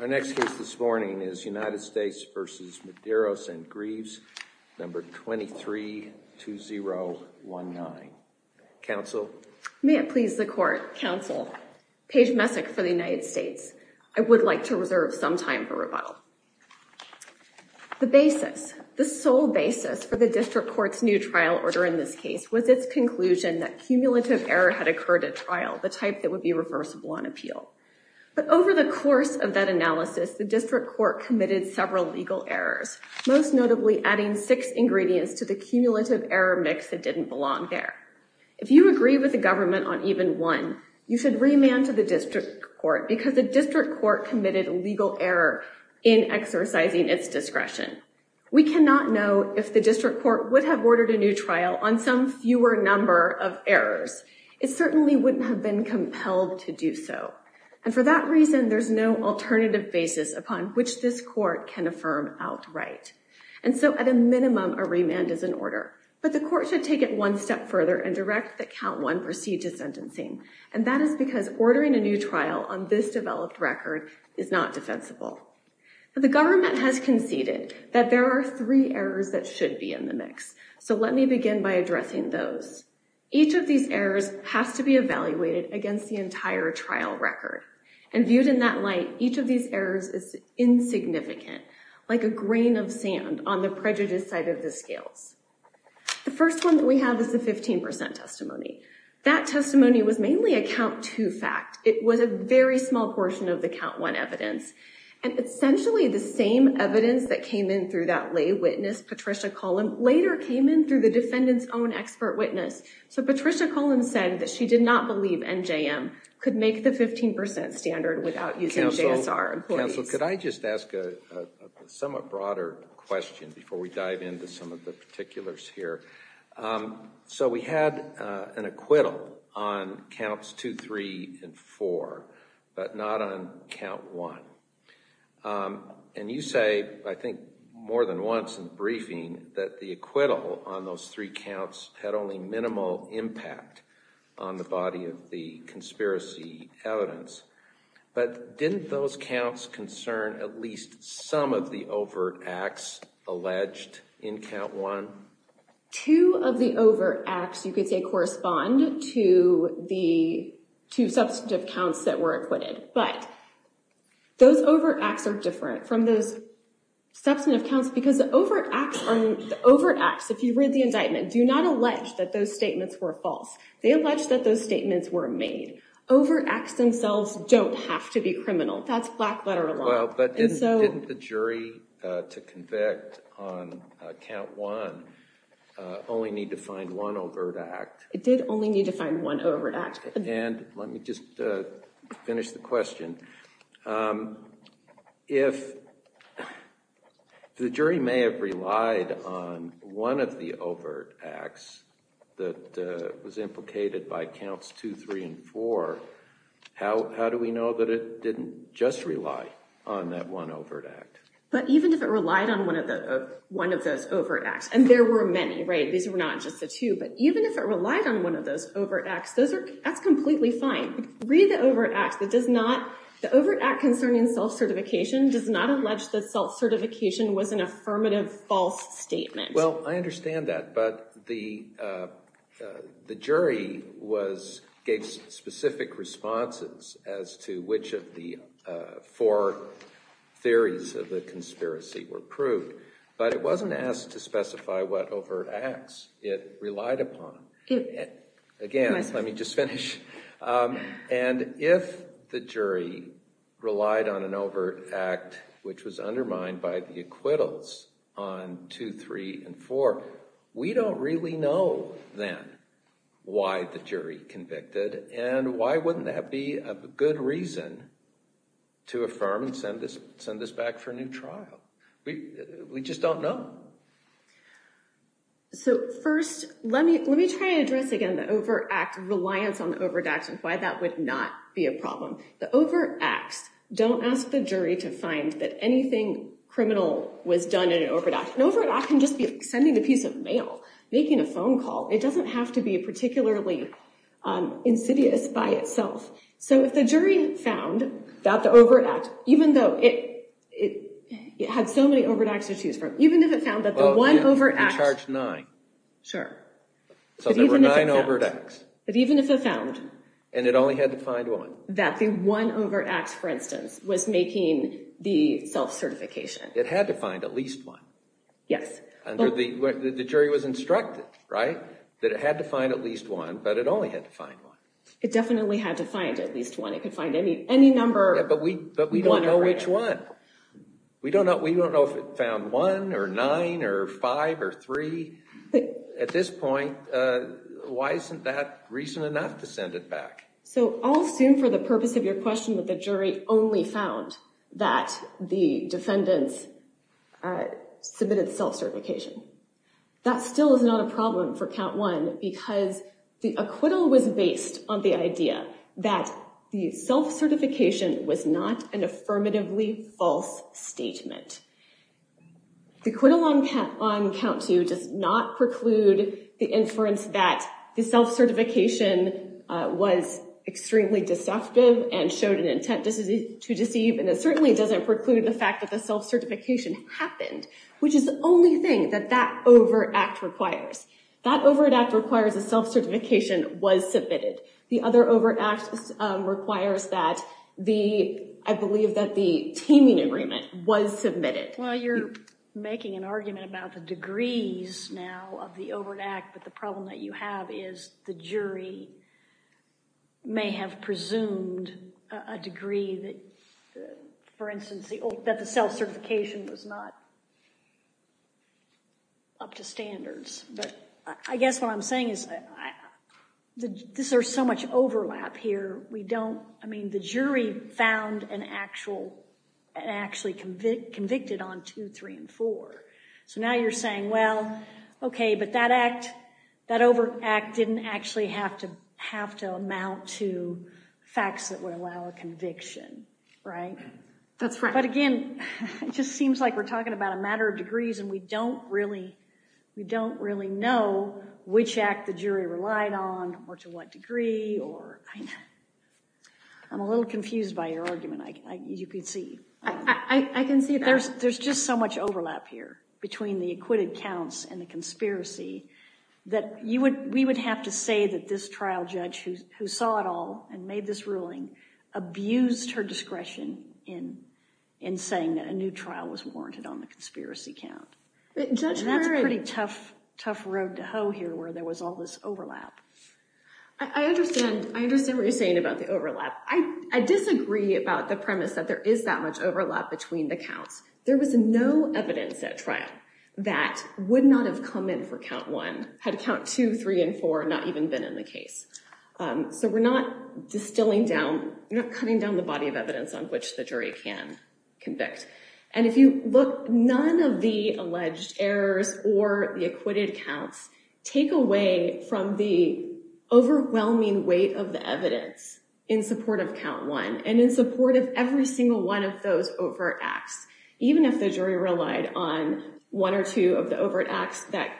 and Grieves, number 232019. Counsel? May it please the court, counsel, Paige Messick for the United States. I would like to reserve some time for rebuttal. The basis, the sole basis for the district court's new trial order in this case was its conclusion that cumulative error had occurred at trial, the type that would be reversible on appeal. But over the course of that analysis, the district court committed several legal errors, most notably adding six ingredients to the cumulative error mix that didn't belong there. If you agree with the government on even one, you should remand to the district court because the district court committed a legal error in exercising its discretion. We cannot know if the district court would have ordered a new trial on some fewer number of errors. It certainly wouldn't have been compelled to do so. And for that reason, there's no alternative basis upon which this court can affirm outright. And so at a minimum, a remand is an order, but the court should take it one step further and direct that count one proceed to sentencing. And that is because ordering a new trial on this developed record is not defensible. The government has conceded that there are three errors that should be in the mix. So let me begin by addressing those. Each of these errors has to be evaluated against the entire trial record. And viewed in that light, each of these errors is insignificant, like a grain of sand on the prejudice side of the scales. The first one that we have is the 15% testimony. That testimony was mainly a count two fact. It was a very small portion of the count one evidence. And essentially the same evidence that came in through that lay witness, Patricia Cullen, later came in through the defendant's own expert witness. So Patricia Cullen said that she did not believe NJM could make the 15% standard without using JSR. Counsel, could I just ask a somewhat broader question before we dive into some of the particulars here? So we had an acquittal on counts two, three, and four, but not on count one. And you say, I think more than once in the briefing, that the acquittal on those three counts had only minimal impact on the body of the conspiracy evidence. But didn't those counts concern at least some of the overt acts alleged in count one? Two of the overt acts, you could say, correspond to the two substantive counts that were acquitted. But those overt acts are different from those substantive counts because the overt acts, if you read the indictment, do not allege that those statements were false. They allege that those statements were made. Overt acts themselves don't have to be criminal. That's black letter law. Well, but didn't the jury, to convict on count one, only need to find one overt act? It did only need to find one overt act. And let me just finish the question. If the jury may have relied on one of the overt acts that was implicated by counts two, three, and four, how do we know that it didn't just rely on that one overt act? But even if it relied on one of those overt acts, and there were many, right? These were not just the two. But even if it relied on one of those overt acts, that's completely fine. Read the overt act that does not, the overt act concerning self-certification does not allege that self-certification was an affirmative false statement. Well, I understand that. But the jury gave specific responses as to which of the four theories of the conspiracy were proved. But it wasn't asked to specify what overt acts it relied upon. Again, let me just finish. And if the jury relied on an overt act which was undermined by the acquittals on two, three, and four, we don't really know then why the jury convicted. And why wouldn't that be a good reason to affirm and send this back for a new trial? We just don't know. So first, let me try to address again the over act reliance on the overt acts and why that would not be a problem. The overt acts don't ask the jury to find that anything criminal was done in an overt act. An overt act can just be sending a piece of mail, making a phone call. It doesn't have to be particularly insidious by itself. So if the jury found that the overt act, even though it had so many overt acts to choose from, if the jury found that the one overt act, that the one overt act, for instance, was making the self-certification, it had to find at least one. The jury was instructed that it had to find at least one, but it only had to find one. It definitely had to find at least one. It could find any number, but we don't know which one. We don't know if it found one or nine or five or three. At this point, why isn't that reason enough to send it back? So I'll assume for the purpose of your question that the jury only found that the defendants submitted self-certification. That still is not a problem for count one because the acquittal was based on the idea that the self-certification was not an affirmatively false statement. The acquittal on count two does not preclude the inference that the self-certification was extremely deceptive and showed an intent to deceive, and it certainly doesn't preclude the fact that the self-certification happened, which is the only thing that that overt act requires. That overt act requires a self-certification was submitted. The other overt act requires that the, I believe that the teaming agreement was submitted. Well, you're making an argument about the degrees now of the overt act, but the problem that you have is the jury may have presumed a degree that, for instance, that the self-certification was not up to standards. But I guess what I'm saying is that this, there's so much overlap here. We don't, I mean, the jury found an actual, actually convicted on two, three, and four. So now you're saying, well, okay, but that act, that overt act didn't actually have to have to amount to facts that would allow a conviction, right? That's right. But again, it just seems like we're talking about a matter of degrees and we don't really, we don't really know which act the jury relied on or to what degree or, I'm a little confused by your argument. I, you could see. I can see it. There's just so much overlap here between the acquitted counts and the conspiracy that you would, we would have to say that this trial judge who saw it all and made this ruling abused her discretion in saying that a new trial was warranted on the conspiracy count. And that's a pretty tough, tough road to hoe here where there was all this overlap. I understand. I understand what you're saying about the overlap. I disagree about the premise that there is that much overlap between the counts. There was no evidence at trial that would not have come in for count one, had count two, three, and four not even been in the case. So we're not distilling down, you're not cutting down the body of evidence on which the jury can convict. And if you look, none of the alleged errors or the acquitted counts take away from the overwhelming weight of the evidence in support of count one and in support of every single one of those overt acts, even if the jury relied on one or two of the overt acts that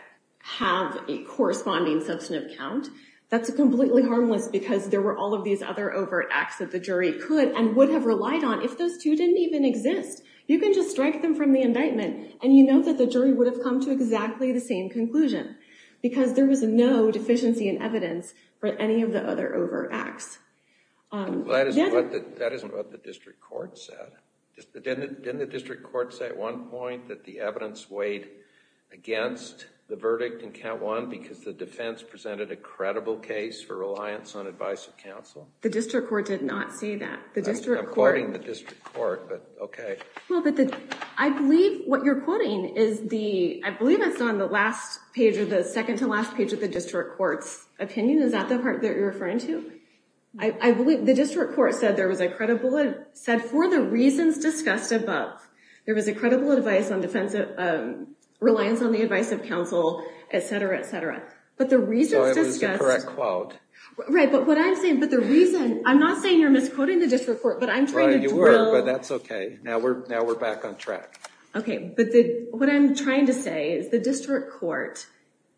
have a corresponding substantive count, that's a completely harmless because there were all of these other overt acts that the jury could and would have relied on if those two didn't even exist. You can just strike them from the indictment and you know that the jury would have come to exactly the same conclusion because there was no deficiency in evidence for any of the other overt acts. That isn't what the district court said. Didn't the district court say at one point that the evidence weighed against the verdict in count one because the defense presented a credible case for reliance on advice of counsel? The district court did not say that. I'm quoting the district court, but okay. I believe what you're quoting is the, I believe it's on the last page or the second to last page of the district court's opinion, is that the part that you're referring to? I believe the district court said there was a credible, said for the reasons discussed above, there was a credible reliance on the advice of counsel, et cetera, et cetera. But the reasons discussed. So it was the correct quote. Right. But what I'm saying, but the reason, I'm not saying you're misquoting the district court, but I'm trying to drill. Right, you were, but that's okay. Now we're back on track. Okay. But what I'm trying to say is the district court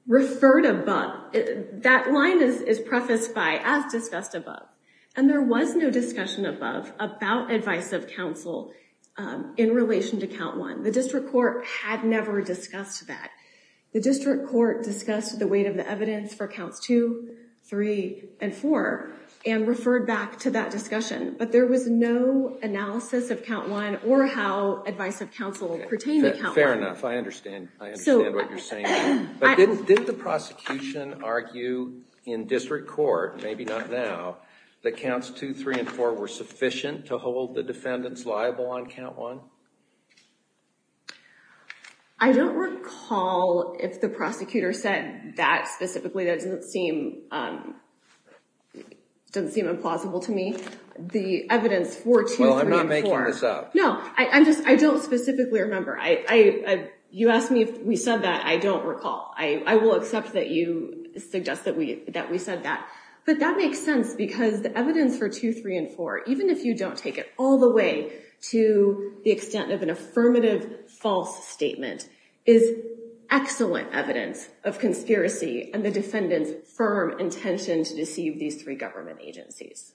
referred above, that line is prefaced by as discussed above, and there was no discussion above about advice of counsel in relation to count one. The district court had never discussed that. The district court discussed the weight of the evidence for counts two, three, and four, and referred back to that discussion, but there was no analysis of count one or how advice of counsel pertained to count one. Fair enough. I understand. I understand what you're saying. But didn't the prosecution argue in district court, maybe not now, that counts two, three, and four were sufficient to hold the defendants liable on count one? I don't recall if the prosecutor said that specifically, that doesn't seem implausible to me. The evidence for two, three, and four. Well, I'm not making this up. No, I'm just, I don't specifically remember. You asked me if we said that, I don't recall. I will accept that you suggest that we said that, but that makes sense because the evidence for two, three, and four, even if you don't take it all the way to the extent of an affirmative false statement, is excellent evidence of conspiracy and the defendant's firm intention to deceive these three government agencies.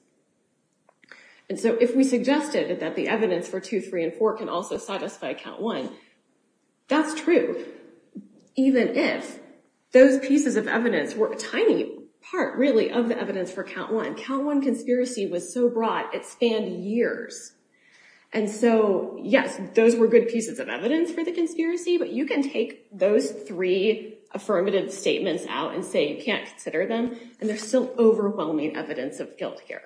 And so if we suggested that the evidence for two, three, and four can also satisfy count one, that's true, even if those pieces of evidence were a tiny part really of the evidence for count one. The count one conspiracy was so broad, it spanned years. And so, yes, those were good pieces of evidence for the conspiracy, but you can take those three affirmative statements out and say you can't consider them, and there's still overwhelming evidence of guilt here,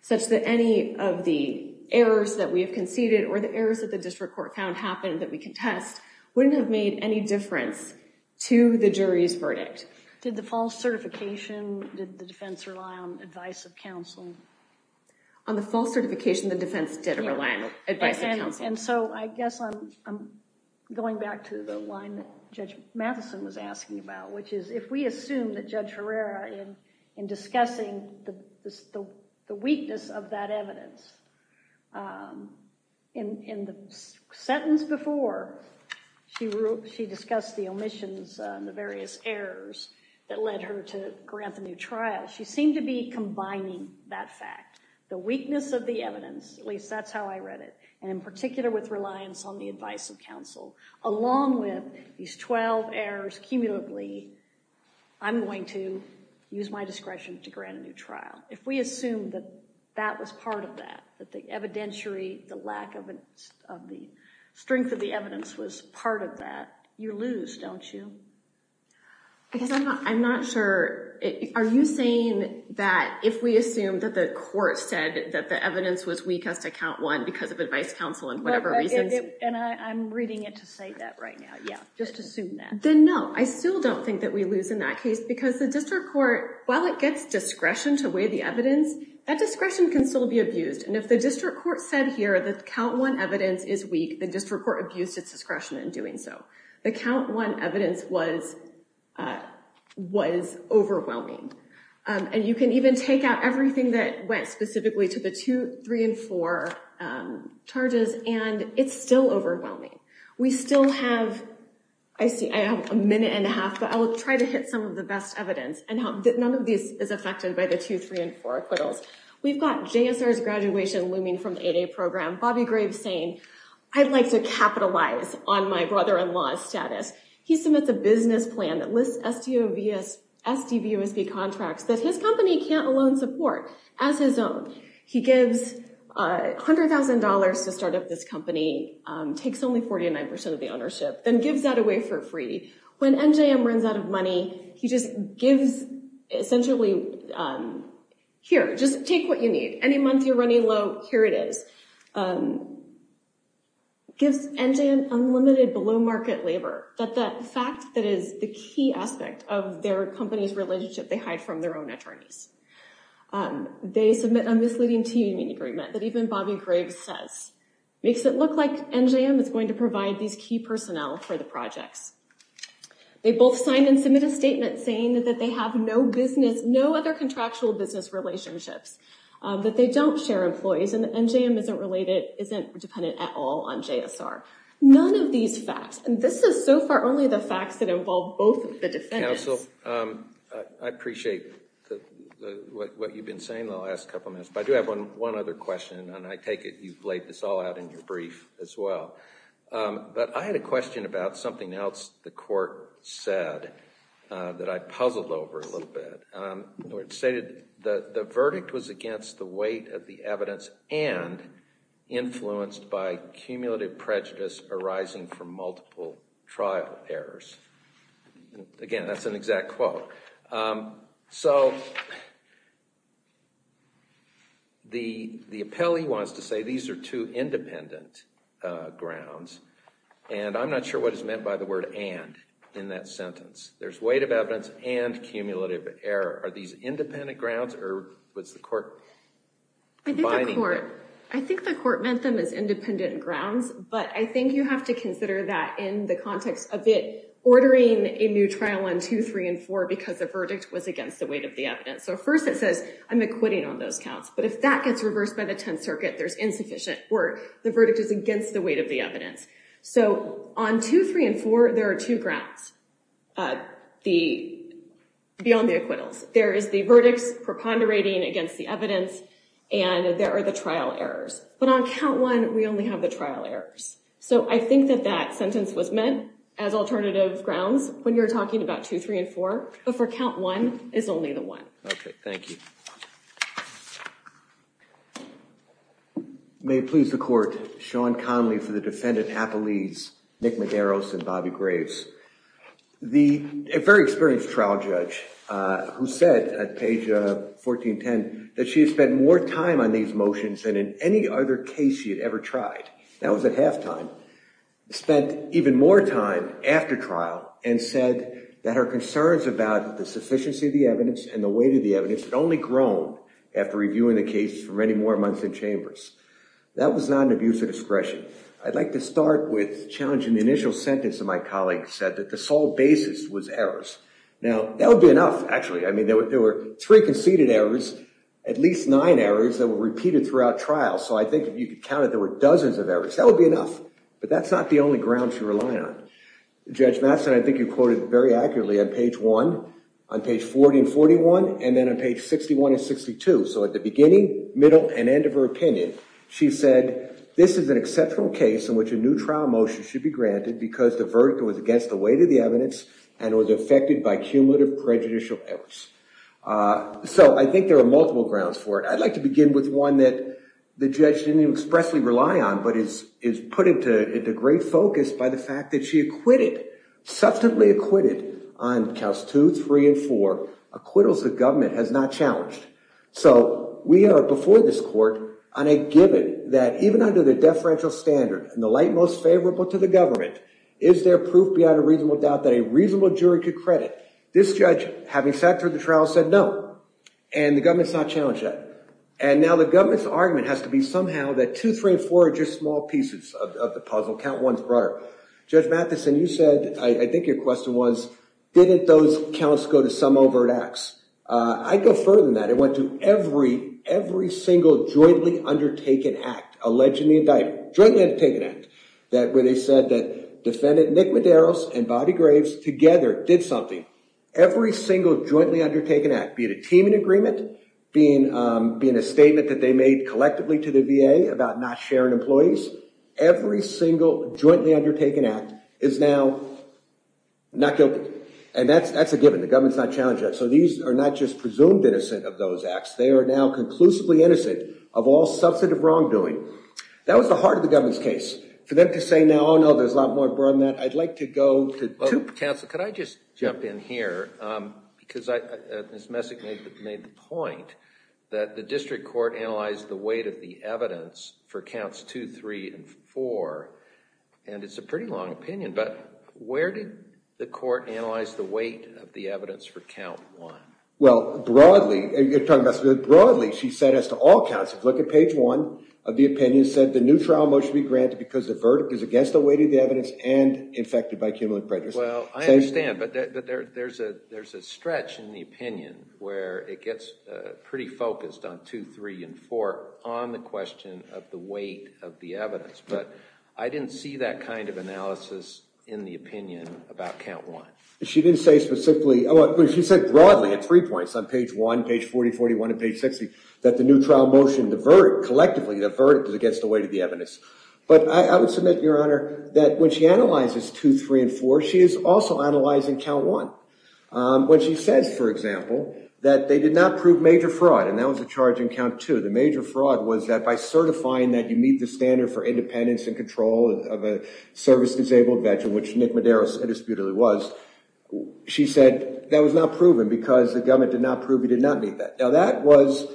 such that any of the errors that we have conceded or the errors that the district court found happened that we contest wouldn't have made any difference to the jury's verdict. Did the false certification, did the defense rely on advice of counsel? On the false certification, the defense did rely on advice of counsel. And so I guess I'm going back to the line that Judge Matheson was asking about, which is if we assume that Judge Herrera, in discussing the weakness of that evidence, in the sentence before she discussed the omissions and the various errors that led her to grant the new trial, she seemed to be combining that fact, the weakness of the evidence, at least that's how I read it, and in particular with reliance on the advice of counsel, along with these twelve errors cumulatively, I'm going to use my discretion to grant a new trial. If we assume that that was part of that, that the evidentiary, the lack of the strength of the evidence was part of that, you lose, don't you? I'm not sure, are you saying that if we assume that the court said that the evidence was weak as to count one because of advice of counsel and whatever reasons? And I'm reading it to say that right now, yeah. Just assume that. Then no, I still don't think that we lose in that case because the district court, while it gets discretion to weigh the evidence, that discretion can still be abused, and if the district court said here that count one evidence is weak, the district court abused its discretion in doing so. The count one evidence was overwhelming, and you can even take out everything that went specifically to the two, three, and four charges, and it's still overwhelming. We still have, I see I have a minute and a half, but I'll try to hit some of the best evidence, and none of this is affected by the two, three, and four acquittals. We've got JSR's graduation looming from the 8A program, Bobby Graves saying, I'd like to capitalize on my brother-in-law's status. He submits a business plan that lists SDVUSB contracts that his company can't alone support as his own. He gives $100,000 to start up this company, takes only 49% of the ownership, then gives that away for free. When NJM runs out of money, he just gives essentially, here, just take what you need. Any month you're running low, here it is. Gives NJM unlimited below-market labor, that fact that is the key aspect of their company's relationship they hide from their own attorneys. They submit a misleading teaming agreement that even Bobby Graves says makes it look like NJM is going to provide these key personnel for the projects. They both sign and submit a statement saying that they have no business, no other contractual business relationships, that they don't share employees, and that NJM isn't dependent at all on JSR. None of these facts, and this is so far only the facts that involve both of the defendants. Counsel, I appreciate what you've been saying the last couple minutes, but I do have one other question, and I take it you've laid this all out in your brief as well. But I had a question about something else the court said that I puzzled over a little bit. It stated, the verdict was against the weight of the evidence and influenced by cumulative prejudice arising from multiple trial errors. Again, that's an exact quote. So, the appellee wants to say these are two independent grounds, and I'm not sure what is meant by the word and in that sentence. There's weight of evidence and cumulative error. Are these independent grounds, or was the court combining them? I think the court meant them as independent grounds, but I think you have to consider that in the context of it ordering a new trial on 2, 3, and 4 because the verdict was against the weight of the evidence. So, first it says, I'm acquitting on those counts, but if that gets reversed by the Tenth Circuit, there's insufficient work. The verdict is against the weight of the evidence. So on 2, 3, and 4, there are two grounds beyond the acquittals. There is the verdicts preponderating against the evidence, and there are the trial errors. But on count one, we only have the trial errors. So, I think that that sentence was meant as alternative grounds when you're talking about 2, 3, and 4, but for count one, it's only the one. Okay, thank you. May it please the court, Sean Connolly for the defendant, appellees Nick Medeiros and Bobby Graves. A very experienced trial judge who said at page 1410 that she had spent more time on these motions than in any other case she had ever tried. That was at halftime. Spent even more time after trial and said that her concerns about the sufficiency of the evidence and the weight of the evidence had only grown after reviewing the case for many more months in chambers. That was not an abuse of discretion. I'd like to start with challenging the initial sentence that my colleague said, that the sole basis was errors. Now that would be enough, actually. I mean, there were three conceded errors, at least nine errors that were repeated throughout trial. So I think if you could count it, there were dozens of errors. That would be enough. But that's not the only grounds you rely on. Judge Matheson, I think you quoted very accurately on page one, on page 1441, and then on page 61 and 62. So at the beginning, middle, and end of her opinion, she said, this is an exceptional case in which a new trial motion should be granted because the verdict was against the weight of the evidence and was affected by cumulative prejudicial errors. So I think there are multiple grounds for it. I'd like to begin with one that the judge didn't even expressly rely on, but is put into great focus by the fact that she acquitted, substantively acquitted, on counts two, three, and four, acquittals the government has not challenged. So we are, before this court, on a given that even under the deferential standard and the light most favorable to the government, is there proof beyond a reasonable doubt that a reasonable jury could credit? This judge, having sat through the trial, said no. And the government's not challenged yet. And now the government's argument has to be somehow that two, three, and four are just small pieces of the puzzle, count one's broader. Judge Matheson, you said, I think your question was, didn't those counts go to some overt acts? I'd go further than that. It went to every, every single jointly undertaken act, alleged in the indictment, jointly undertaken act, where they said that defendant Nick Medeiros and Bobby Graves together did something. Now, every single jointly undertaken act, be it a teaming agreement, be it a statement that they made collectively to the VA about not sharing employees, every single jointly undertaken act is now not guilty. And that's a given. The government's not challenged yet. So these are not just presumed innocent of those acts. They are now conclusively innocent of all substantive wrongdoing. That was the heart of the government's case. For them to say now, oh no, there's a lot more broader than that, I'd like to go to two. Mr. Counsel, could I just jump in here, because Ms. Messick made the point that the district court analyzed the weight of the evidence for counts two, three, and four. And it's a pretty long opinion, but where did the court analyze the weight of the evidence for count one? Well, broadly, you're talking about, broadly, she said as to all counts, if you look at page one of the opinion, it said the new trial motion be granted because the verdict is against the weight of the evidence and infected by cumulative prejudice. Well, I understand, but there's a stretch in the opinion where it gets pretty focused on two, three, and four on the question of the weight of the evidence. But I didn't see that kind of analysis in the opinion about count one. She didn't say specifically, she said broadly at three points on page one, page 40, 41, and page 60, that the new trial motion, collectively, the verdict is against the weight of the evidence. But I would submit, Your Honor, that when she analyzes two, three, and four, she is also analyzing count one. When she says, for example, that they did not prove major fraud, and that was a charge in count two, the major fraud was that by certifying that you meet the standard for independence and control of a service-disabled veteran, which Nick Madero indisputably was, she said that was not proven because the government did not prove he did not meet that. Now, that was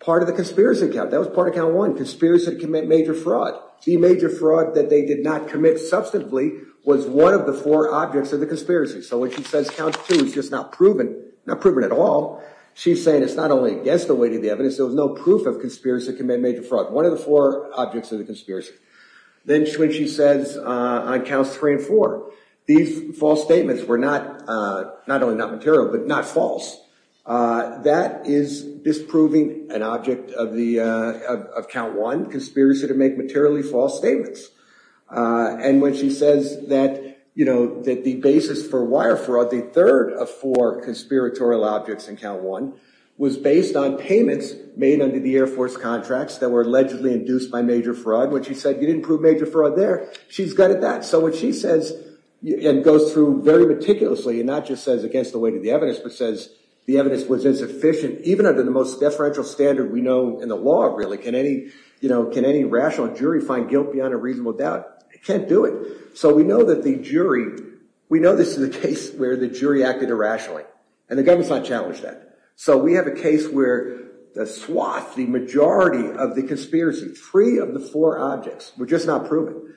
part of the conspiracy account. That was part of count one, conspiracy to commit major fraud. The major fraud that they did not commit, substantively, was one of the four objects of the conspiracy. So when she says count two is just not proven, not proven at all, she's saying it's not only against the weight of the evidence, there was no proof of conspiracy to commit major fraud, one of the four objects of the conspiracy. Then when she says on counts three and four, these false statements were not, not only not material, but not false. That is disproving an object of the, of count one, conspiracy to make materially false statements. And when she says that, you know, that the basis for wire fraud, the third of four conspiratorial objects in count one, was based on payments made under the Air Force contracts that were allegedly induced by major fraud, when she said you didn't prove major fraud there, she's gutted that. So when she says, and goes through very meticulously, and not just says against the weight of the evidence was insufficient, even under the most deferential standard we know in the law really, can any, you know, can any rational jury find guilt beyond a reasonable doubt? It can't do it. So we know that the jury, we know this is a case where the jury acted irrationally, and the government's not challenged that. So we have a case where the swath, the majority of the conspiracy, three of the four objects were just not proven.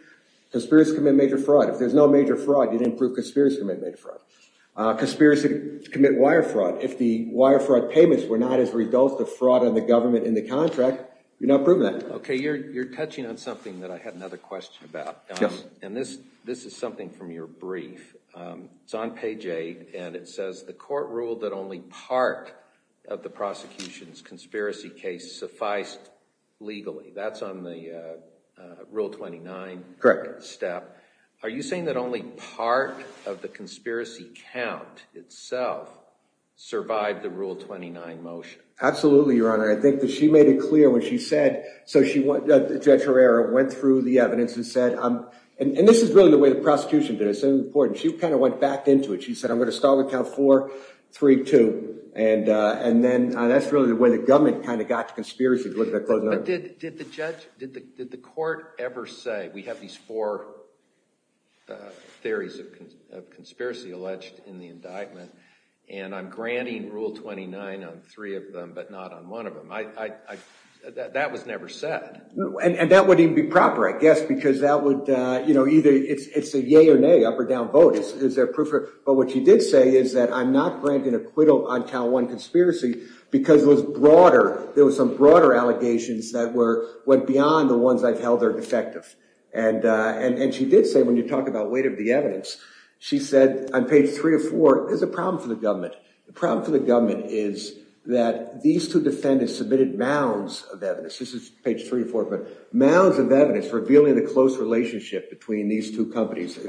Conspiracy to commit major fraud, if there's no major fraud, you didn't prove conspiracy to commit major fraud. Conspiracy to commit wire fraud, if the wire fraud payments were not as a result of fraud on the government in the contract, you don't prove that. Okay, you're touching on something that I had another question about. And this is something from your brief. It's on page eight, and it says the court ruled that only part of the prosecution's conspiracy case sufficed legally. That's on the Rule 29 step. Are you saying that only part of the conspiracy count itself survived the Rule 29 motion? Absolutely, Your Honor. I think that she made it clear when she said, so Judge Herrera went through the evidence and said, and this is really the way the prosecution did it, it's so important, she kind of went back into it. She said, I'm going to start with count four, three, two. And then that's really the way the government kind of got to conspiracy, to look at the closing argument. Did the court ever say, we have these four theories of conspiracy alleged in the indictment, and I'm granting Rule 29 on three of them, but not on one of them? That was never said. And that wouldn't even be proper, I guess, because that would either, it's a yay or nay, up or down vote. Is there proof? But what she did say is that, I'm not granting acquittal on count one conspiracy, because it was broader. There were some broader allegations that went beyond the ones I've held are defective. And she did say, when you talk about weight of the evidence, she said on page three or four, there's a problem for the government. The problem for the government is that these two defendants submitted mounds of evidence, this is page three or four, but mounds of evidence revealing the close relationship between these two companies,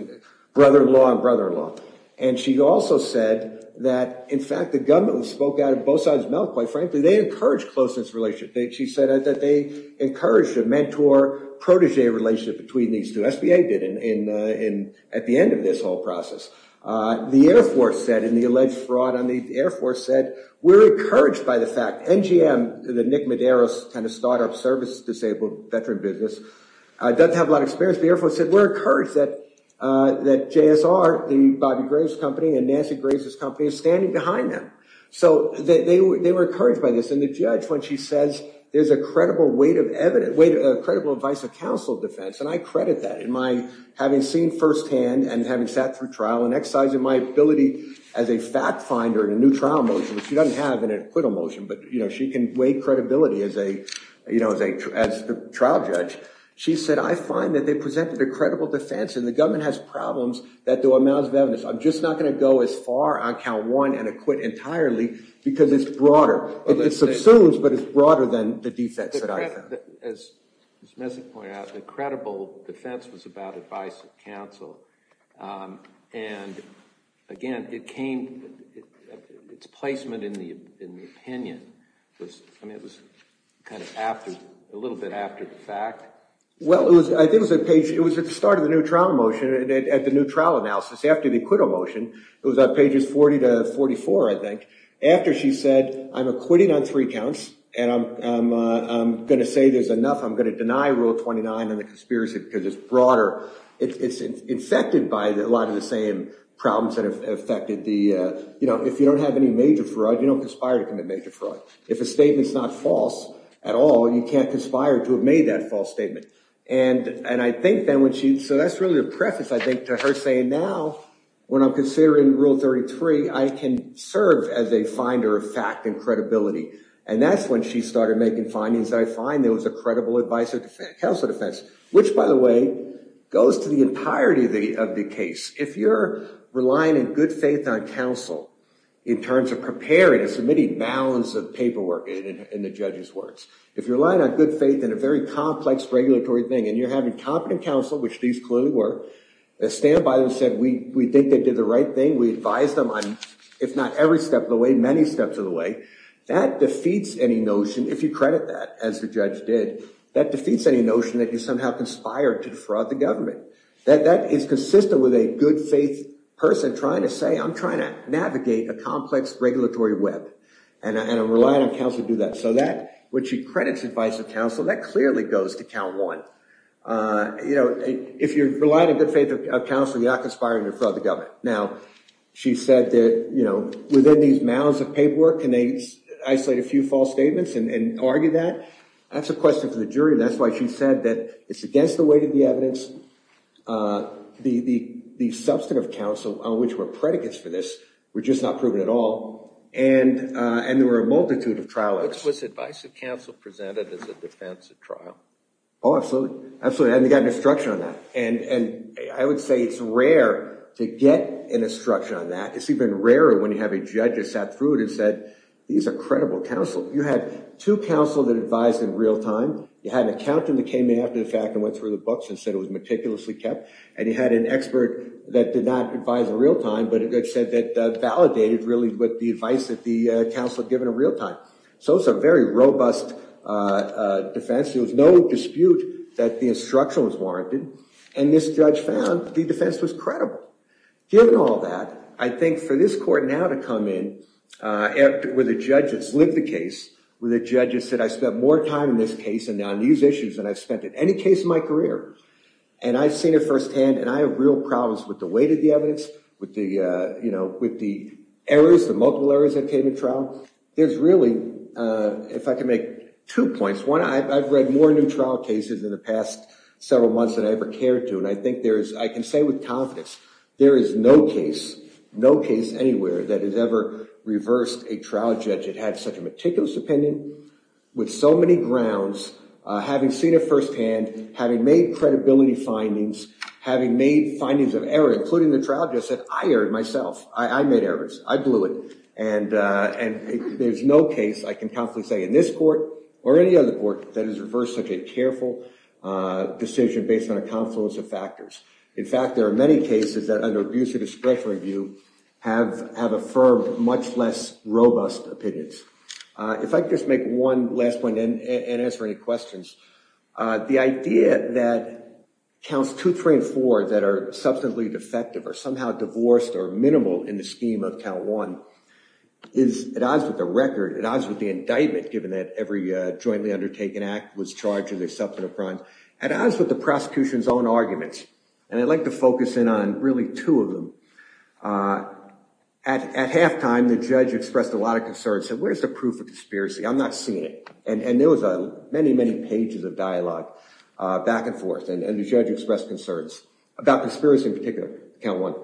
brother-in-law and brother-in-law. And she also said that, in fact, the government spoke out of both sides' mouth, quite frankly. They encouraged closeness relationship. She said that they encouraged a mentor-protege relationship between these two, SBA did at the end of this whole process. The Air Force said, in the alleged fraud on the Air Force said, we're encouraged by the fact, NGM, the Nick Medeiros kind of startup service disabled veteran business, doesn't have a lot of experience. SBA Air Force said, we're encouraged that JSR, the Bobby Graves' company and Nancy Graves' company is standing behind them. So they were encouraged by this. And the judge, when she says, there's a credible weight of evidence, credible advice of counsel defense, and I credit that in my having seen firsthand and having sat through trial and exercising my ability as a fact finder in a new trial motion, which she doesn't have in an acquittal motion, but she can weigh credibility as a trial judge. She said, I find that they presented a credible defense and the government has problems that do amounts of evidence. I'm just not going to go as far on count one and acquit entirely because it's broader. It subsumes, but it's broader than the defense that I have. As Ms. Messick pointed out, the credible defense was about advice of counsel. And again, it came, its placement in the opinion was, I mean, it was kind of after, a little bit after the fact. Well, it was, I think it was a page, it was at the start of the new trial motion, at the new trial analysis, after the acquittal motion, it was on pages 40 to 44, I think. After she said, I'm acquitting on three counts and I'm going to say there's enough, I'm going to deny rule 29 and the conspiracy because it's broader. It's infected by a lot of the same problems that have affected the, you know, if you don't have any major fraud, you don't conspire to commit major fraud. If a statement's not false at all, you can't conspire to have made that false statement. And I think then when she, so that's really a preface, I think, to her saying, now when I'm considering rule 33, I can serve as a finder of fact and credibility. And that's when she started making findings that I find there was a credible advice of counsel defense, which by the way, goes to the entirety of the case. If you're relying in good faith on counsel in terms of preparing and submitting balance of paperwork in the judge's words, if you're relying on good faith in a very complex regulatory thing and you're having competent counsel, which these clearly were, stand by and said, we think they did the right thing, we advise them on if not every step of the way, many steps of the way, that defeats any notion, if you credit that as the judge did, that defeats any notion that you somehow conspired to defraud the government. That is consistent with a good faith person trying to say, I'm trying to navigate a complex regulatory web, and I'm relying on counsel to do that. So that, when she credits advice of counsel, that clearly goes to count one. If you're relying on good faith of counsel, you're not conspiring to defraud the government. Now she said that within these mounds of paperwork, can they isolate a few false statements and argue that? That's a question for the jury, and that's why she said that it's against the weight of the evidence, the substantive counsel on which were predicates for this were just not proven at all, and there were a multitude of trialers. Was advice of counsel presented as a defense of trial? Oh, absolutely. Absolutely. And they got an instruction on that, and I would say it's rare to get an instruction on that. It's even rarer when you have a judge that sat through it and said, these are credible counsel. You had two counsel that advised in real time, you had an accountant that came in after the hearing that did not advise in real time, but it said that validated really with the advice that the counsel had given in real time. So it's a very robust defense. There was no dispute that the instruction was warranted, and this judge found the defense was credible. Given all that, I think for this court now to come in, where the judges lived the case, where the judges said, I spent more time in this case and on these issues than I've spent in any case in my career, and I've seen it firsthand, and I have real problems with the weight of the evidence, with the errors, the multiple errors that came in trial. There's really, if I can make two points, one, I've read more new trial cases in the past several months than I ever cared to, and I think there is, I can say with confidence, there is no case, no case anywhere that has ever reversed a trial judge that had such a meticulous opinion, with so many grounds, having seen it firsthand, having made credibility findings, having made findings of error, including the trial judge that said, I erred myself. I made errors. I blew it, and there's no case I can confidently say in this court or any other court that has reversed such a careful decision based on a confluence of factors. In fact, there are many cases that under abuse of discretion review have affirmed much less robust opinions. If I could just make one last point and answer any questions, the idea that counts two, three, and four that are substantively defective or somehow divorced or minimal in the scheme of count one is at odds with the record, at odds with the indictment, given that every jointly undertaken act was charged with a substantive crime, at odds with the prosecution's own arguments, and I'd like to focus in on really two of them. At halftime, the judge expressed a lot of concern and said, where's the proof of conspiracy? I'm not seeing it. And there was many, many pages of dialogue back and forth, and the judge expressed concerns about conspiracy in particular, count one.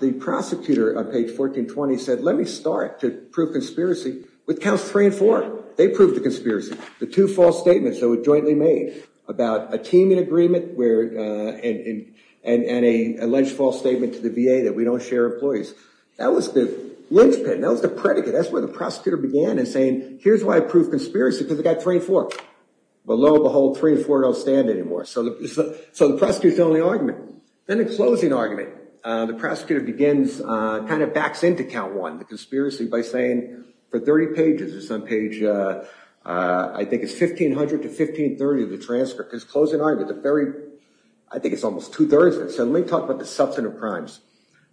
The prosecutor on page 1420 said, let me start to prove conspiracy with counts three and four. They proved the conspiracy. The two false statements that were jointly made about a teaming agreement and an alleged false statement to the VA that we don't share employees. That was the linchpin. That was the predicate. That's where the prosecutor began in saying, here's why I prove conspiracy, because I got three and four. But lo and behold, three and four don't stand anymore. So the prosecutor's the only argument. Then in closing argument, the prosecutor begins, kind of backs into count one, the conspiracy, by saying for 30 pages, it's on page, I think it's 1500 to 1530 of the transcript, because closing argument, the very, I think it's almost two-thirds of it. So let me talk about the substantive crimes.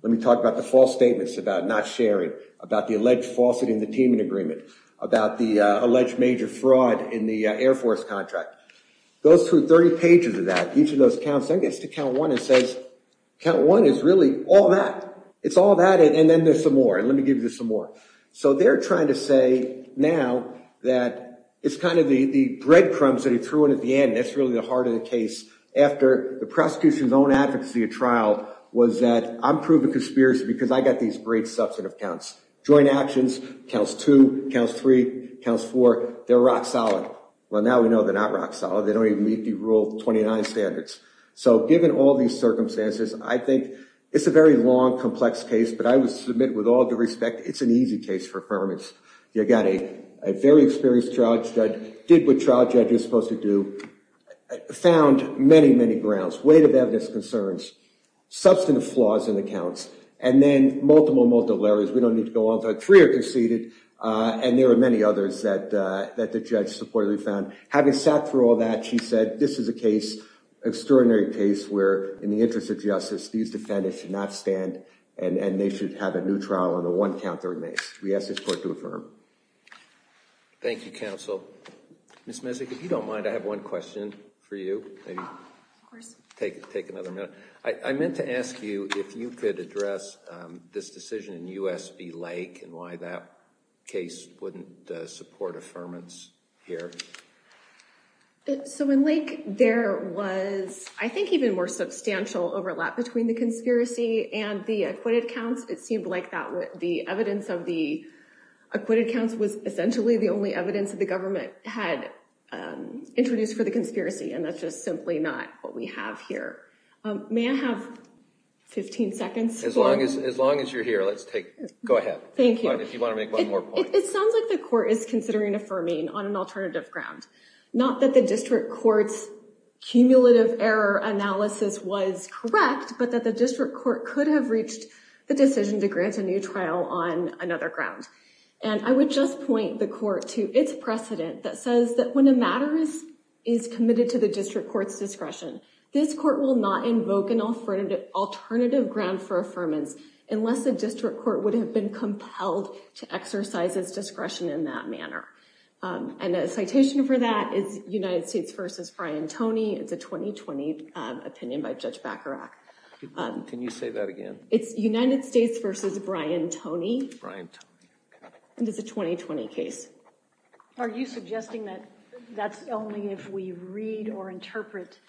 Let me talk about the false statements about not sharing, about the alleged falsity in the teaming agreement, about the alleged major fraud in the Air Force contract. Those 30 pages of that, each of those counts, then gets to count one and says, count one is really all that. It's all that, and then there's some more, and let me give you some more. So they're trying to say now that it's kind of the breadcrumbs that he threw in at the end. And again, that's really the heart of the case. After the prosecution's own advocacy of trial was that, I'm proving conspiracy because I got these great substantive counts. Joint actions, counts two, counts three, counts four, they're rock solid. Well, now we know they're not rock solid, they don't even meet the rule 29 standards. So given all these circumstances, I think it's a very long, complex case, but I would submit with all due respect, it's an easy case for affirmance. You got a very experienced trial judge, did what trial judges are supposed to do, found many, many grounds, weight of evidence concerns, substantive flaws in the counts, and then multiple, multiple errors. We don't need to go on to three are conceded, and there were many others that the judge supportedly found. Having sat through all that, she said, this is a case, extraordinary case, where in the interest of justice, these defendants should not stand, and they should have a new trial on the one count that remains. We ask this court to affirm. Thank you, counsel. Ms. Messick, if you don't mind, I have one question for you, maybe take another minute. I meant to ask you if you could address this decision in U.S. v. Lake and why that case wouldn't support affirmance here. So in Lake, there was, I think, even more substantial overlap between the conspiracy and the acquitted counts. It seemed like the evidence of the acquitted counts was essentially the only evidence that the government had introduced for the conspiracy, and that's just simply not what we have here. May I have 15 seconds? As long as you're here, let's take, go ahead. Thank you. If you want to make one more point. It sounds like the court is considering affirming on an alternative ground. Not that the district court's cumulative error analysis was correct, but that the district court could have reached the decision to grant a new trial on another ground. And I would just point the court to its precedent that says that when a matter is committed to the district court's discretion, this court will not invoke an alternative ground for affirmance unless the district court would have been compelled to exercise its discretion in that manner. And a citation for that is United States v. Brian Toney, it's a 2020 opinion by Judge Bacharach. Can you say that again? It's United States v. Brian Toney. Brian Toney. And it's a 2020 case. Are you suggesting that that's only if we read or interpret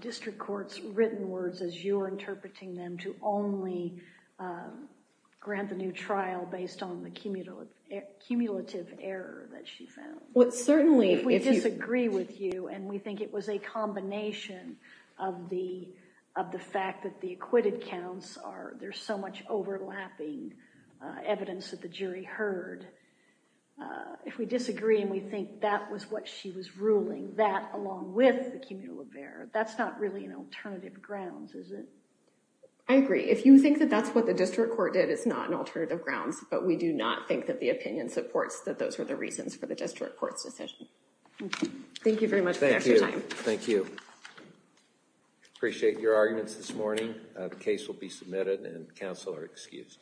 district court's written words as you're interpreting them to only grant the new trial based on the cumulative error that she found? Well, certainly if we disagree with you and we think it was a combination of the fact that the acquitted counts are, there's so much overlapping evidence that the jury heard. If we disagree and we think that was what she was ruling, that along with the cumulative error, that's not really an alternative grounds, is it? I agree. If you think that that's what the district court did, it's not an alternative grounds, but we do not think that the opinion supports that those are the reasons for the district court's decision. Okay. Thank you very much for your time. Thank you. Thank you. I appreciate your arguments this morning. The case will be submitted and counsel are excused.